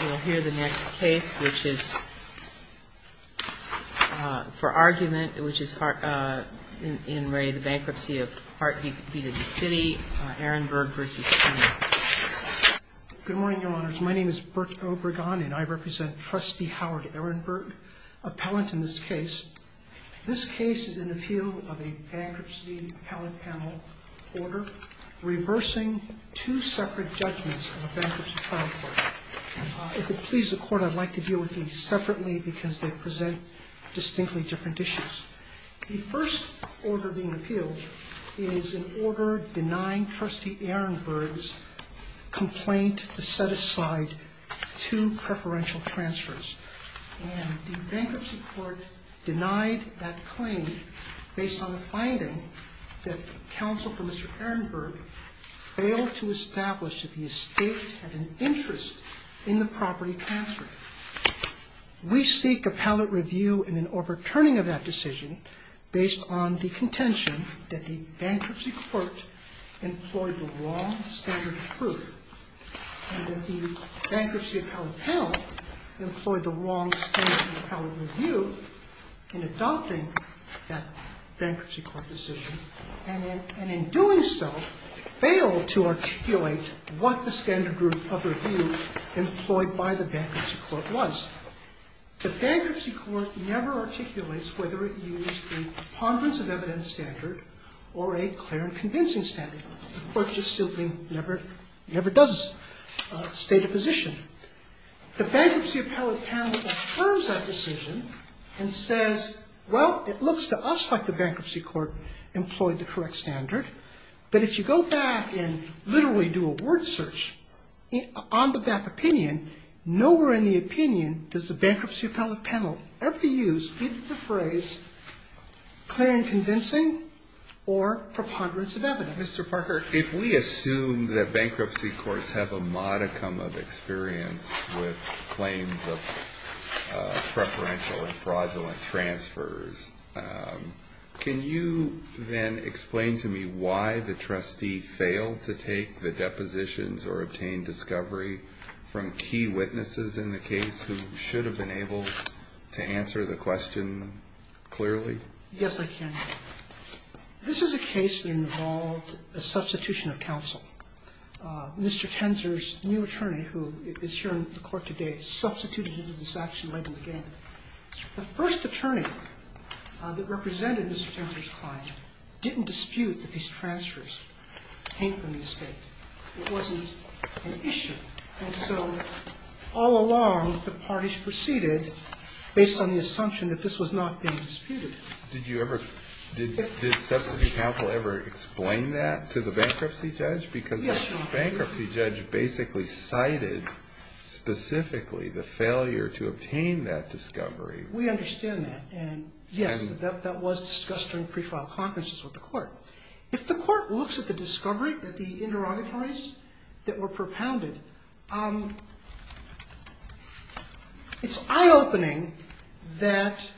We'll hear the next case, which is for argument, which is in Ray, the bankruptcy of Hart v. DeCity, Ehrenberg v. Tenzer. Good morning, Your Honors. My name is Bert Obregon, and I represent Trustee Howard Ehrenberg, appellant in this case. This case is an appeal of a bankruptcy appellate panel order reversing two separate judgments of a bankruptcy trial court. If it pleases the Court, I'd like to deal with these separately because they present distinctly different issues. The first order being appealed is an order denying Trustee Ehrenberg's complaint to set aside two preferential transfers. And the bankruptcy court denied that claim based on the finding that counsel for Mr. Ehrenberg failed to establish that the estate had an interest in the property transfer. We seek appellate review in an overturning of that decision based on the contention that the bankruptcy court employed the wrong standard of proof and that the bankruptcy appellate panel employed the wrong standard of appellate review in adopting that bankruptcy court decision, and in doing so, failed to articulate what the standard of review employed by the bankruptcy court was. The bankruptcy court never articulates whether it used a ponderance of evidence standard or a clear and convincing standard. The Court just simply never does state a position. The bankruptcy appellate panel affirms that decision and says, well, it looks to us like the bankruptcy court employed the correct standard, but if you go back and literally do a word search on that opinion, nowhere in the opinion does the bankruptcy appellate panel ever use the phrase clear and convincing or preponderance of evidence. Mr. Parker? If we assume that bankruptcy courts have a modicum of experience with claims of preferential and fraudulent transfers, can you then explain to me why the trustee failed to take the depositions or obtain discovery from key witnesses in the case who should have been able to answer the question clearly? Yes, I can. This is a case that involved a substitution of counsel. Mr. Tenzer's new attorney, who is here in the Court today, substituted him to this action right in the beginning. The first attorney that represented Mr. Tenzer's client didn't dispute that these transfers came from the estate. It wasn't an issue. And so all along, the parties proceeded based on the assumption that this was not being disputed. Did you ever – did substitute counsel ever explain that to the bankruptcy judge? Yes. Because the bankruptcy judge basically cited specifically the failure to obtain that discovery. We understand that. And, yes, that was discussed during pre-file conferences with the court. If the court looks at the discovery, at the interrogatories that were propounded, it's eye-opening that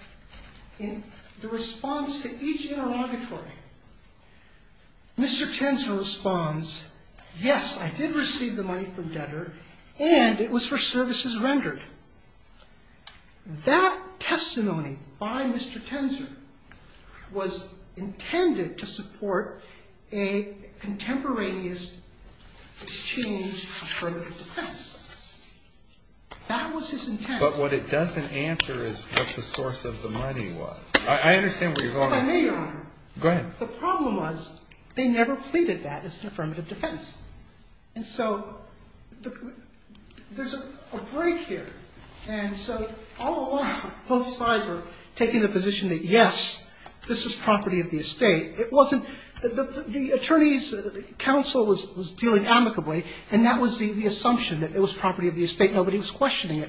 in the response to each interrogatory, Mr. Tenzer responds, yes, I did receive the money from debtor, and it was for services rendered. That testimony by Mr. Tenzer was intended to support a contemporaneous exchange of affirmative defense. That was his intent. But what it doesn't answer is what the source of the money was. I understand where you're going. If I may, Your Honor. Go ahead. The problem was they never pleaded that as an affirmative defense. And so there's a break here. And so all along, both sides were taking the position that, yes, this was property of the estate. It wasn't – the attorneys' counsel was dealing amicably, and that was the assumption that it was property of the estate. Nobody was questioning it.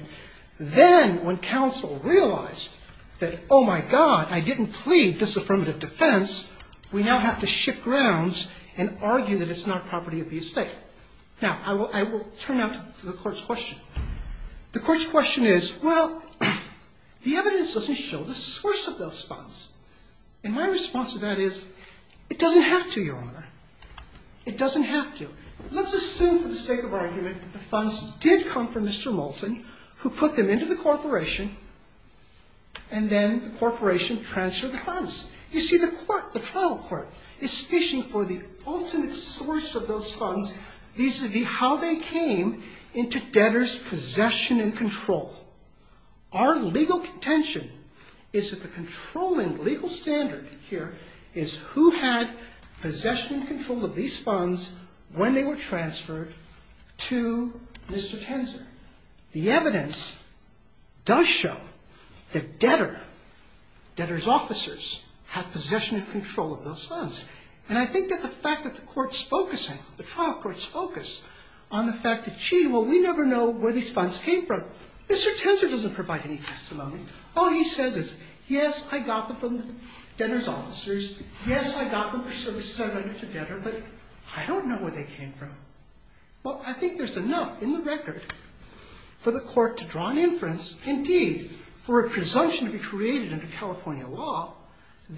Then when counsel realized that, oh, my God, I didn't plead disaffirmative defense, we now have to shift grounds and argue that it's not property of the estate. Now, I will turn now to the Court's question. The Court's question is, well, the evidence doesn't show the source of those funds. And my response to that is, it doesn't have to, Your Honor. It doesn't have to. Let's assume for the sake of argument that the funds did come from Mr. Moulton, who put them into the corporation, and then the corporation transferred the funds. You see, the court, the trial court, is fishing for the ultimate source of those funds vis-à-vis how they came into debtors' possession and control. Our legal contention is that the controlling legal standard here is who had possession and control of these funds when they were transferred to Mr. Tenzer. The evidence does show that debtor, debtor's officers had possession and control of those funds. And I think that the fact that the court's focusing, the trial court's focus on the fact that, gee, well, we never know where these funds came from. Mr. Tenzer doesn't provide any testimony. All he says is, yes, I got them from the debtor's officers. Yes, I got them for services I rendered to debtor, but I don't know where they came from. Well, I think there's enough in the record for the court to draw an inference, indeed, for a presumption to be created under California law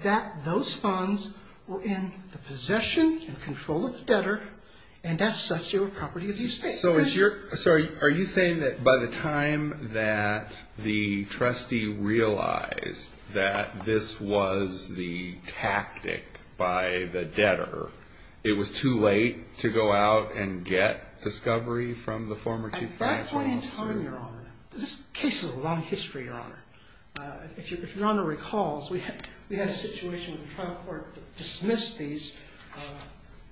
that those funds were in the possession and control of the debtor and, as such, they were property of the estate. So are you saying that by the time that the trustee realized that this was the tactic by the debtor, it was too late to go out and get discovery from the former chief financial officer? At that point in time, Your Honor, this case has a long history, Your Honor. If Your Honor recalls, we had a situation where the trial court dismissed these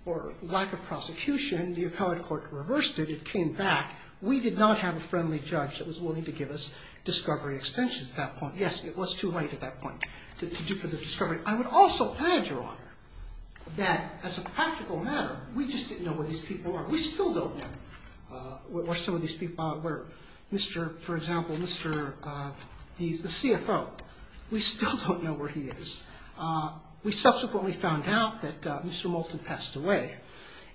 for lack of prosecution. The appellate court reversed it. It came back. We did not have a friendly judge that was willing to give us discovery extensions at that point. Yes, it was too late at that point to do for the discovery. I would also add, Your Honor, that as a practical matter, we just didn't know where these people were. We still don't know where some of these people are. For example, the CFO, we still don't know where he is. We subsequently found out that Mr. Moulton passed away,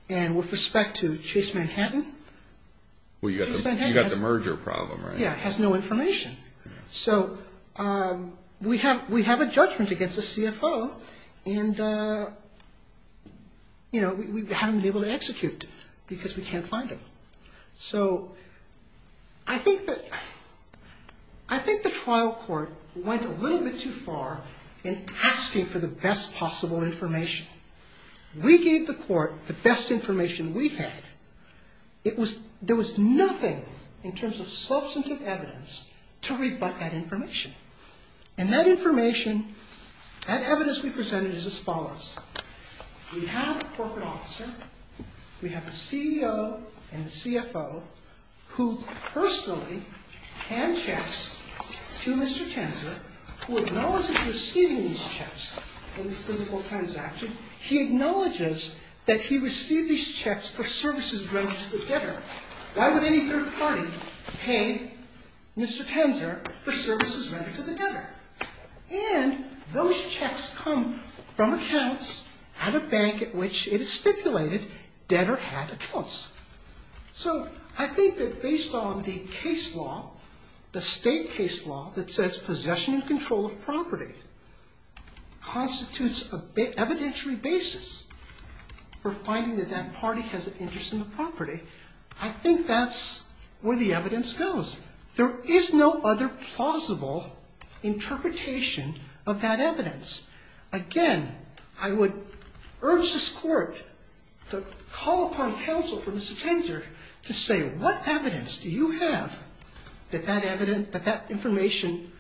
and with respect to Chase Manhattan. Well, you've got the merger problem, right? Yeah, it has no information. So we have a judgment against the CFO, and we haven't been able to execute because we can't find him. So I think the trial court went a little bit too far in asking for the best possible information. We gave the court the best information we had. There was nothing in terms of substantive evidence to rebut that information. And that information, that evidence we presented is as follows. We have a corporate officer. We have the CEO and the CFO who personally hand checks to Mr. Tenzer, who acknowledges receiving these checks in this physical transaction. He acknowledges that he received these checks for services related to the debtor. Why would any third party pay Mr. Tenzer for services related to the debtor? And those checks come from accounts at a bank at which it is stipulated debtor had accounts. So I think that based on the case law, the state case law that says possession and control of property constitutes an evidentiary basis for finding that that party has an interest in the property, I think that's where the evidence goes. There is no other plausible interpretation of that evidence. Again, I would urge this court to call upon counsel for Mr. Tenzer to say what evidence do you have that that evidence, that that information,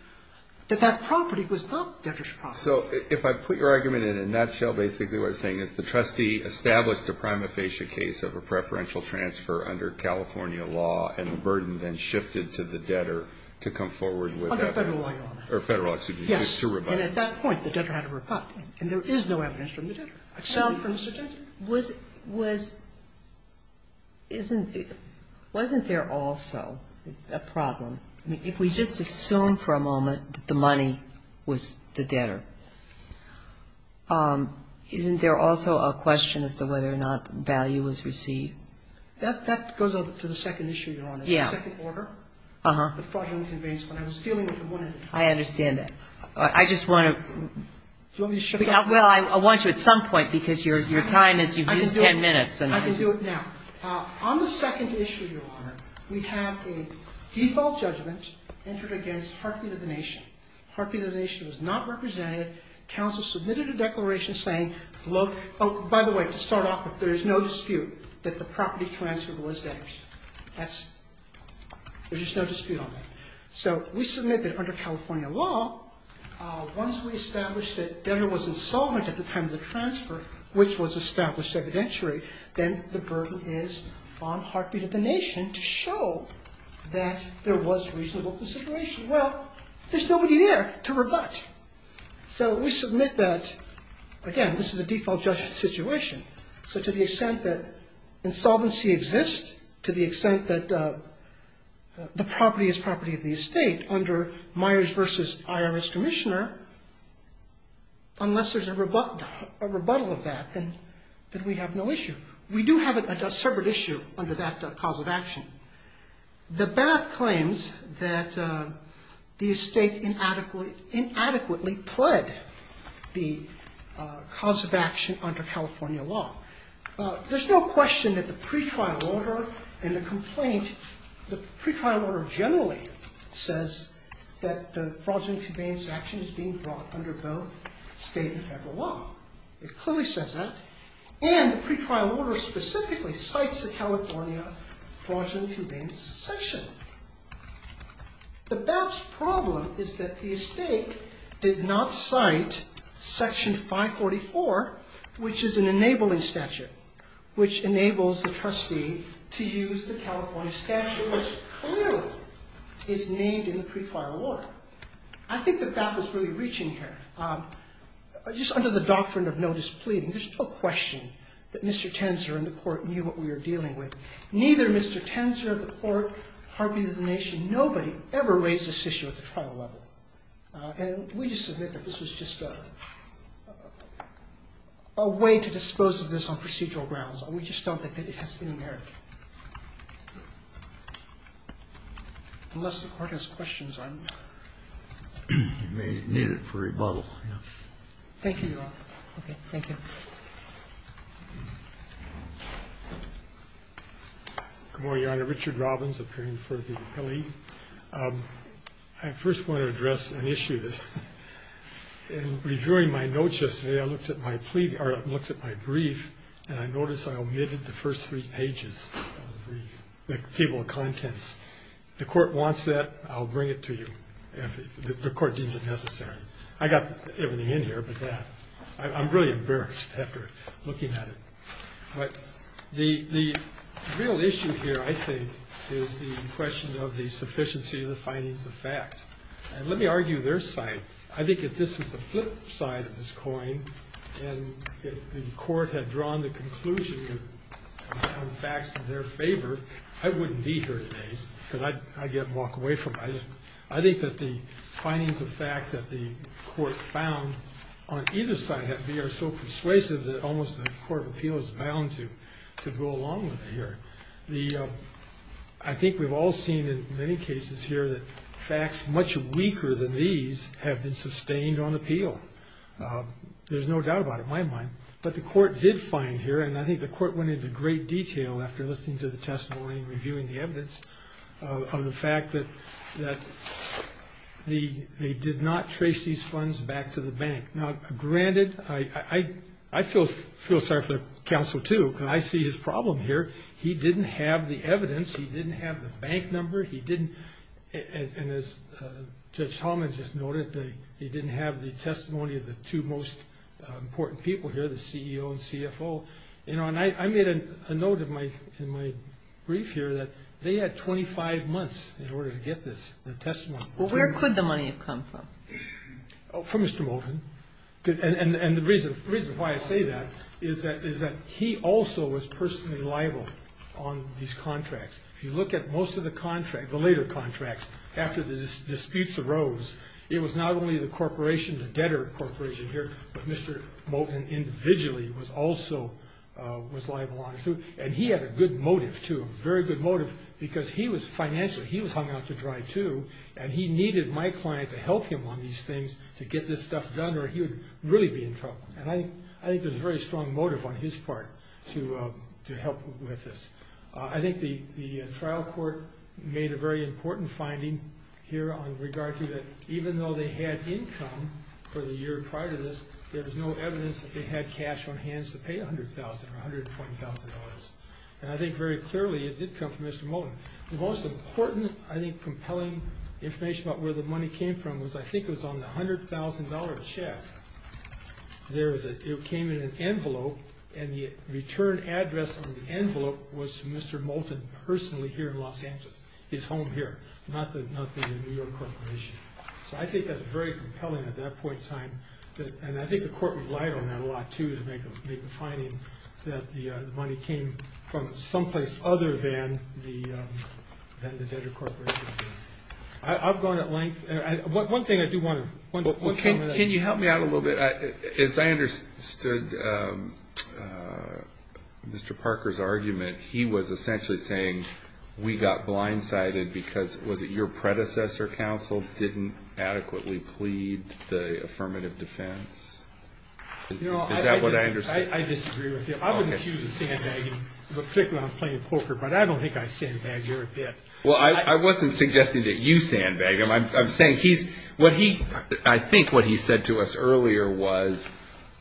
that that property was not debtor's property? So if I put your argument in a nutshell, basically what I'm saying is the trustee established a prima facie case of a preferential transfer under California law and the burden then shifted to the debtor to come forward with that. Under federal law. Or federal law, excuse me. Yes. And at that point, the debtor had to rebut. And there is no evidence from the debtor, except from Mr. Tenzer. Wasn't there also a problem? I mean, if we just assume for a moment that the money was the debtor, isn't there also a question as to whether or not value was received? That goes to the second issue, Your Honor. Yeah. The second order. Uh-huh. The fraudulent conveyance fund. I was dealing with one at a time. I understand that. I just want to – Do you want me to shut it off? Well, I want you at some point, because your time is – you've used 10 minutes. I can do it now. On the second issue, Your Honor, we have a default judgment entered against heartbeat of the nation. Heartbeat of the nation was not represented. Counsel submitted a declaration saying, oh, by the way, to start off with, there is no dispute that the property transfer was debtor's. That's – there's just no dispute on that. So we submit that under California law, once we establish that debtor was insolvent at the time of the transfer, which was established evidentiary, then the burden is on heartbeat of the nation to show that there was reasonable consideration. Well, there's nobody there to rebut. So we submit that, again, this is a default judgment situation. So to the extent that insolvency exists, to the extent that the property is property of the estate under Myers v. IRS Commissioner, unless there's a rebuttal of that, then we have no issue. We do have a separate issue under that cause of action. The BAT claims that the estate inadequately pled the cause of action under California law. There's no question that the pretrial order and the complaint – the pretrial order generally says that the fraudulent conveyance of action is being brought under both state and federal law. It clearly says that. And the pretrial order specifically cites the California fraudulent conveyance section. The BAT's problem is that the estate did not cite Section 544, which is an enabling statute, which enables the trustee to use the California statute, which clearly is named in the pretrial order. I think the BAT was really reaching here. Just under the doctrine of no displeasing, there's no question that Mr. Tenzer and the Court knew what we were dealing with. Neither Mr. Tenzer or the Court, heartbeat of the nation, nobody ever raised this issue at the trial level. And we just submit that this was just a way to dispose of this on procedural grounds. We just don't think that it has any merit, unless the Court has questions on it. Thank you. Okay. Thank you. Good morning, Your Honor. Richard Robbins, appearing before the appellee. I first want to address an issue. In reviewing my notes yesterday, I looked at my brief, and I noticed I omitted the first three pages of the table of contents. If the Court wants that, I'll bring it to you. If the Court deems it necessary. I got everything in here, but I'm really embarrassed after looking at it. But the real issue here, I think, is the question of the sufficiency of the findings of facts. And let me argue their side. I think if this was the flip side of this coin, and if the Court had drawn the conclusion on facts in their favor, I wouldn't be here today. Because I'd get walked away from it. I think that the findings of fact that the Court found on either side have been so persuasive that almost the Court of Appeal is bound to go along with it here. I think we've all seen in many cases here that facts much weaker than these have been sustained on appeal. There's no doubt about it, in my mind. But the Court did find here, and I think the Court went into great detail after listening to the testimony and reviewing the evidence, of the fact that they did not trace these funds back to the bank. Now, granted, I feel sorry for the counsel, too, because I see his problem here. He didn't have the evidence. He didn't have the bank number. And as Judge Talman just noted, he didn't have the testimony of the two most important people here, the CEO and CFO. And I made a note in my brief here that they had 25 months in order to get the testimony. Well, where could the money have come from? From Mr. Moten. And the reason why I say that is that he also was personally liable on these contracts. If you look at most of the contracts, the later contracts, after the disputes arose, it was not only the corporation, the debtor corporation here, but Mr. Moten individually was also liable on it. And he had a good motive, too, a very good motive, because he was financially, he was hung out to dry, too, and he needed my client to help him on these things to get this stuff done or he would really be in trouble. And I think there's a very strong motive on his part to help with this. I think the trial court made a very important finding here on regard to that even though they had income for the year prior to this, there was no evidence that they had cash on hand to pay $100,000 or $120,000. And I think very clearly it did come from Mr. Moten. The most important, I think, compelling information about where the money came from was I think it was on the $100,000 check. It came in an envelope, and the return address on the envelope was Mr. Moten personally here in Los Angeles, his home here, not the New York corporation. So I think that's very compelling at that point in time. And I think the court relied on that a lot, too, to make the finding that the money came from someplace other than the debtor corporation. I've gone at length. One thing I do want to... Can you help me out a little bit? As I understood Mr. Parker's argument, he was essentially saying we got blindsided because, was it your predecessor counsel didn't adequately plead the affirmative defense? Is that what I understand? I disagree with you. I wouldn't accuse him of sandbagging, particularly when I'm playing poker, but I don't think I sandbagged her a bit. Well, I wasn't suggesting that you sandbag him. I think what he said to us earlier was,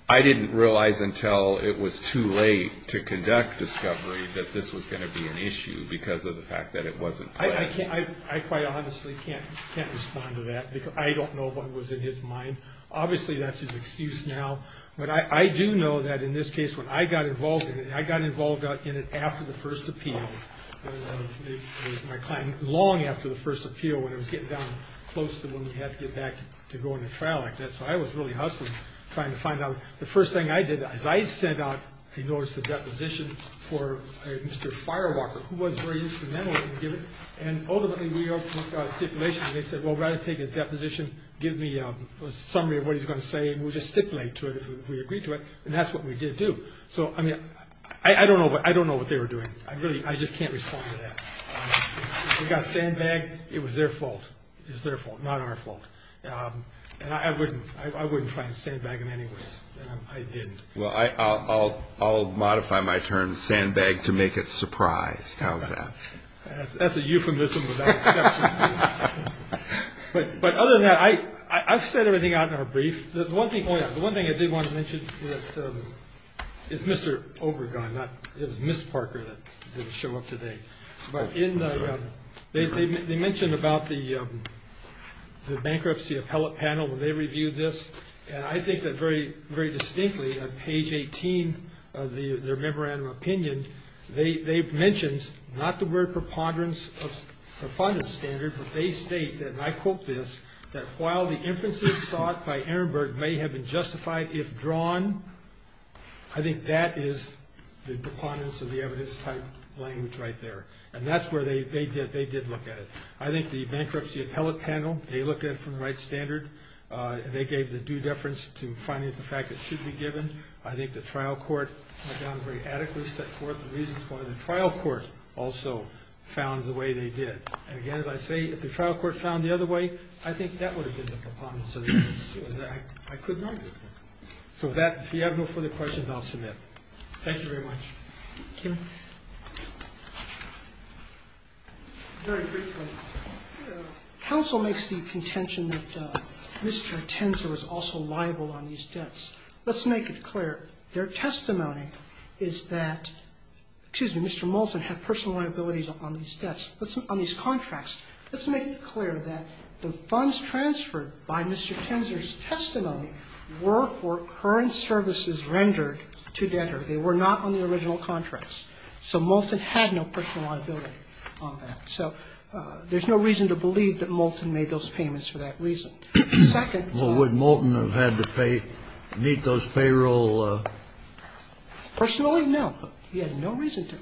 I didn't realize until it was too late to conduct discovery that this was going to be an issue because of the fact that it wasn't planned. I quite honestly can't respond to that because I don't know what was in his mind. Obviously that's his excuse now, but I do know that in this case when I got involved in it, it was my client long after the first appeal when it was getting down close to when we had to get back to going to trial like that. So I was really hustling trying to find out. The first thing I did, as I sent out a notice of deposition for Mr. Firewalker, who was very instrumental in giving it, and ultimately we opened up stipulations and they said, well, rather take his deposition, give me a summary of what he's going to say and we'll just stipulate to it if we agree to it. And that's what we did do. I don't know what they were doing. I really, I just can't respond to that. We got sandbagged. It was their fault. It was their fault, not our fault. And I wouldn't try and sandbag him anyways. I didn't. Well, I'll modify my term, sandbagged to make it surprised. How's that? That's a euphemism. But other than that, I've said everything out in our brief. The one thing I did want to mention is Mr. Obergon. It was Ms. Parker that didn't show up today. But they mentioned about the bankruptcy appellate panel when they reviewed this, and I think that very distinctly on page 18 of their memorandum of opinion, they've mentioned not the word preponderance of the fundament standard, but they state, and I quote this, that while the inferences sought by Ehrenberg may have been justified if drawn, I think that is the preponderance of the evidence type language right there. And that's where they did look at it. I think the bankruptcy appellate panel, they looked at it from the right standard. They gave the due deference to finance the fact it should be given. I think the trial court went down very adequately, set forth the reasons why the trial court also found the way they did. And, again, as I say, if the trial court found the other way, I think that would have been the preponderance of the evidence. I couldn't argue with that. So if you have no further questions, I'll submit. Thank you very much. Thank you. Very briefly, counsel makes the contention that Mr. Tenzer was also liable on these debts. Let's make it clear. Their testimony is that, excuse me, Mr. Moulton had personal liabilities on these debts, on these contracts. Let's make it clear that the funds transferred by Mr. Tenzer's testimony were for current services rendered to debtor. They were not on the original contracts. So Moulton had no personal liability on that. So there's no reason to believe that Moulton made those payments for that reason. The second point. Well, would Moulton have had to pay, meet those payrolls? Personally, no. He had no reason to.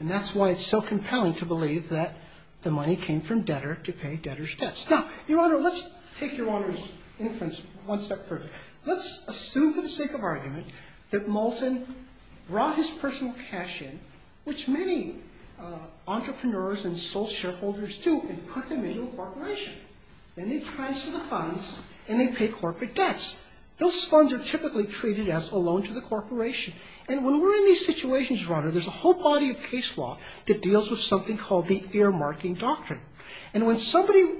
And that's why it's so compelling to believe that the money came from debtor to pay debtor's debts. Now, Your Honor, let's take Your Honor's inference one step further. Let's assume for the sake of argument that Moulton brought his personal cash in, which many entrepreneurs and sole shareholders do, and put them into a corporation. Then they transfer the funds, and they pay corporate debts. Those funds are typically treated as a loan to the corporation. And when we're in these situations, Your Honor, there's a whole body of case law that deals with something called the ear-marking doctrine. And when somebody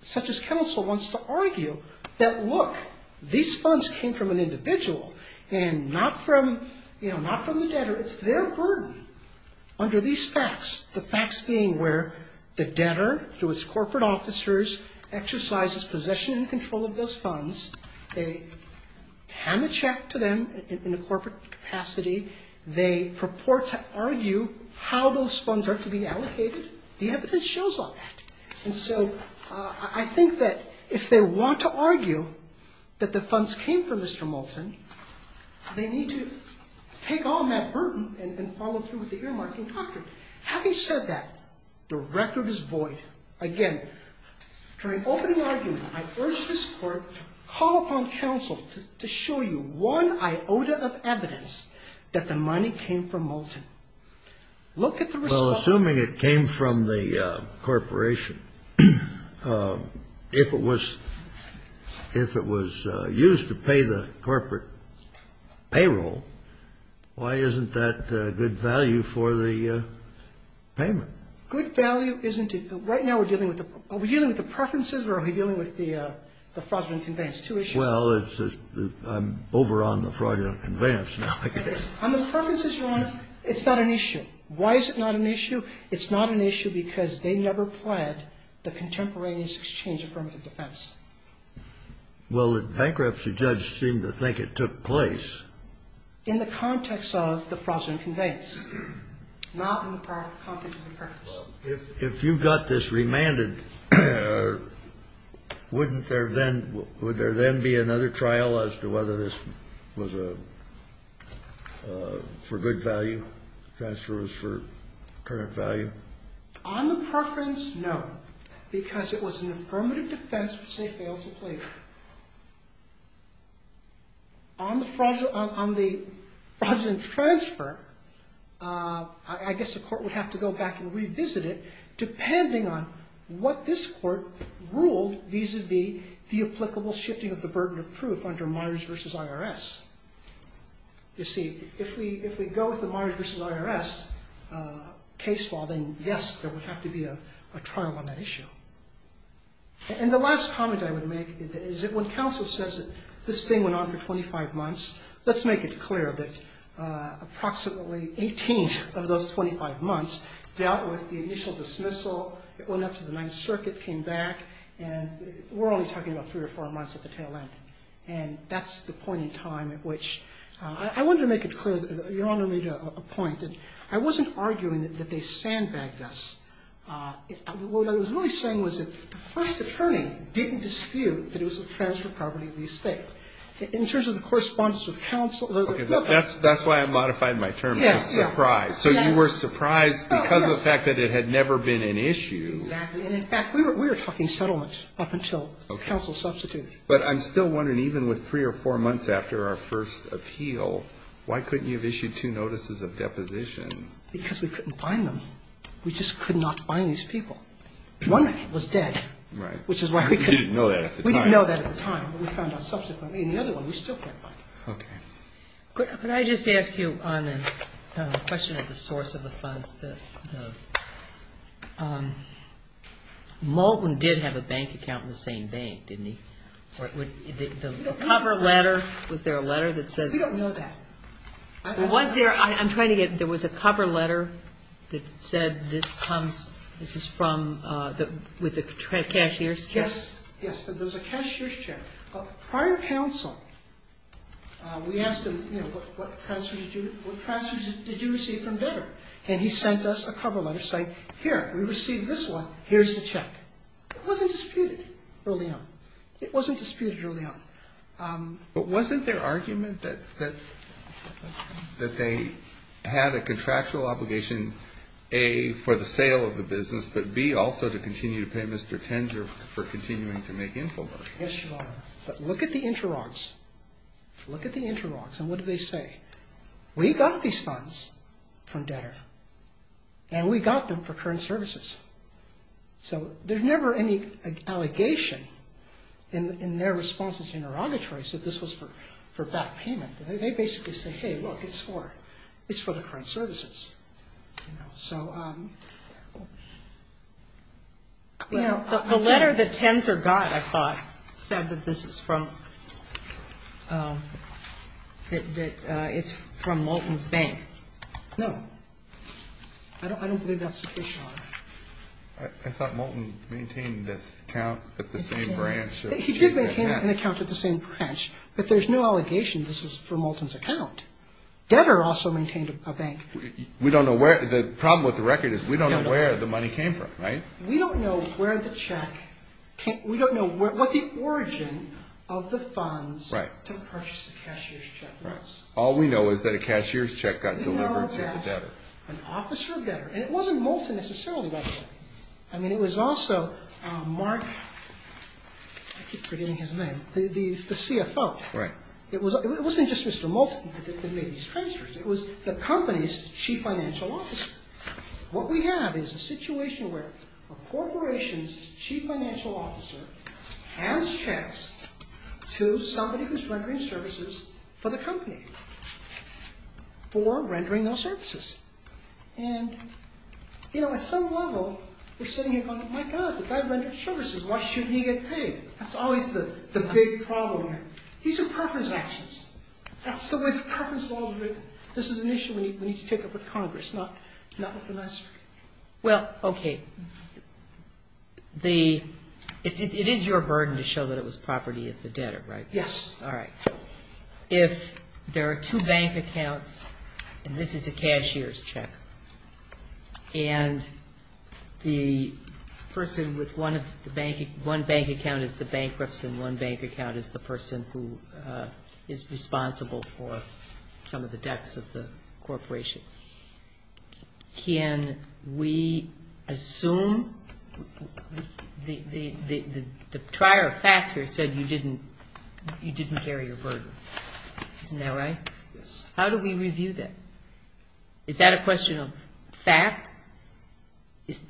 such as counsel wants to argue that, look, these funds came from an individual and not from, you know, not from the debtor, it's their burden under these facts, the facts being where the debtor, through its corporate officers, exercises possession and control of those funds. They hand the check to them in a corporate capacity. They purport to argue how those funds are to be allocated. The evidence shows all that. And so I think that if they want to argue that the funds came from Mr. Moulton, they need to take on that burden and follow through with the ear-marking doctrine. Having said that, the record is void. Again, during opening argument, I urge this Court to call upon counsel to show you one iota of evidence that the money came from Moulton. Look at the result. Well, assuming it came from the corporation, if it was used to pay the corporate payroll, why isn't that good value for the payment? Good value isn't it? Right now we're dealing with the preferences or are we dealing with the fraudulent conveyance? Two issues. Well, I'm over on the fraudulent conveyance now, I guess. On the preferences, Your Honor, it's not an issue. Why is it not an issue? It's not an issue because they never pled the contemporaneous exchange affirmative defense. Well, the bankruptcy judge seemed to think it took place. In the context of the fraudulent conveyance. Not in the context of the preference. Well, if you got this remanded, wouldn't there then be another trial as to whether this was for good value? The transfer was for current value? On the preference, no. Because it was an affirmative defense which they failed to plead. On the fraudulent transfer, I guess the court would have to go back and revisit it depending on what this court ruled vis-a-vis the applicable shifting of the burden of proof under Myers versus IRS. You see, if we go with the Myers versus IRS case law, then yes, there would have to be a trial on that issue. And the last comment I would make is that when counsel says that this thing went on for 25 months, let's make it clear that approximately 18th of those 25 months dealt with the initial dismissal. It went up to the Ninth Circuit, came back, and we're only talking about three or four months at the tail end. And that's the point in time at which I wanted to make it clear. Your Honor made a point that I wasn't arguing that they sandbagged us. What I was really saying was that the first attorney didn't dispute that it was a transfer of property of the estate. In terms of the correspondence with counsel. Okay. That's why I modified my term. Yes. Surprise. So you were surprised because of the fact that it had never been an issue. Exactly. And in fact, we were talking settlement up until counsel substituted. But I'm still wondering, even with three or four months after our first appeal, why couldn't you have issued two notices of deposition? Because we couldn't find them. We just could not find these people. One man was dead. Right. Which is why we couldn't. We didn't know that at the time. We didn't know that at the time. But we found out subsequently. And the other one we still can't find. Okay. Could I just ask you on the question of the source of the funds? Moulton did have a bank account in the same bank, didn't he? The cover letter, was there a letter that said? We don't know that. Was there – I'm trying to get – there was a cover letter that said this comes – this is from the – with the cashier's check? Yes. Yes. It was a cashier's check. Prior to counsel, we asked him, you know, what transfers did you receive from Devere? And he sent us a cover letter saying, here, we received this one, here's the check. It wasn't disputed early on. It wasn't disputed early on. But wasn't there argument that they had a contractual obligation, A, for the sale of the business, but, B, also to continue to pay Mr. Tenger for continuing to make infomercials? Yes, Your Honor. But look at the interrogs. Look at the interrogs. And what do they say? We got these funds from Devere. And we got them for current services. So there's never any allegation in their responses to interrogatories that this was for back payment. They basically say, hey, look, it's for – it's for the current services. So – The letter that Tenzer got, I thought, said that this is from – that it's from Moulton's Bank. No. I don't believe that's the case, Your Honor. I thought Moulton maintained this account at the same branch. He did maintain an account at the same branch. But there's no allegation this was for Moulton's account. Devere also maintained a bank. We don't know where – the problem with the record is we don't know where the money came from, right? We don't know where the check came – we don't know what the origin of the funds to purchase the cashier's check was. All we know is that a cashier's check got delivered to Devere. An officer of Devere. And it wasn't Moulton necessarily, by the way. I mean, it was also Mark – I keep forgetting his name – the CFO. Right. It wasn't just Mr. Moulton that made these transfers. It was the company's chief financial officer. What we have is a situation where a corporation's chief financial officer hands checks to somebody who's rendering services for the company for rendering those services. And, you know, at some level, we're sitting here going, my God, the guy rendered services. Why shouldn't he get paid? That's always the big problem. These are preference actions. That's the way the preference laws are written. This is an issue we need to take up with Congress, not with the National Security. Well, okay. It is your burden to show that it was property of the debtor, right? Yes. All right. If there are two bank accounts, and this is a cashier's check, and the person with one bank account is the bankruptcy and one bank account is the person who is responsible for some of the debts of the corporation, can we assume the prior factor said you didn't carry your burden? Isn't that right? Yes. How do we review that? Is that a question of fact?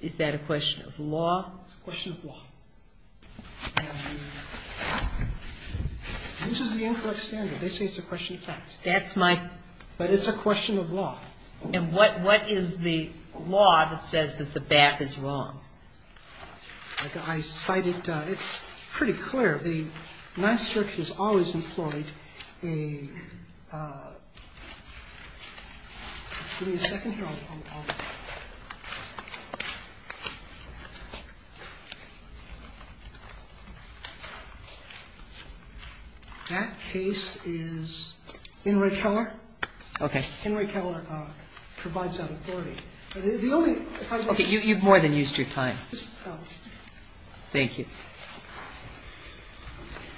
Is that a question of law? It's a question of law. This is the incorrect standard. They say it's a question of fact. That's my question. But it's a question of law. And what is the law that says that the BAP is wrong? I cite it. It's pretty clear. The Ninth Circuit has always employed a — give me a second here. I'll — that case is Henry Keller. Okay. Henry Keller provides that authority. Okay. You've more than used your time. Thank you.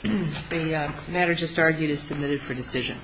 The matter just argued is submitted for decision.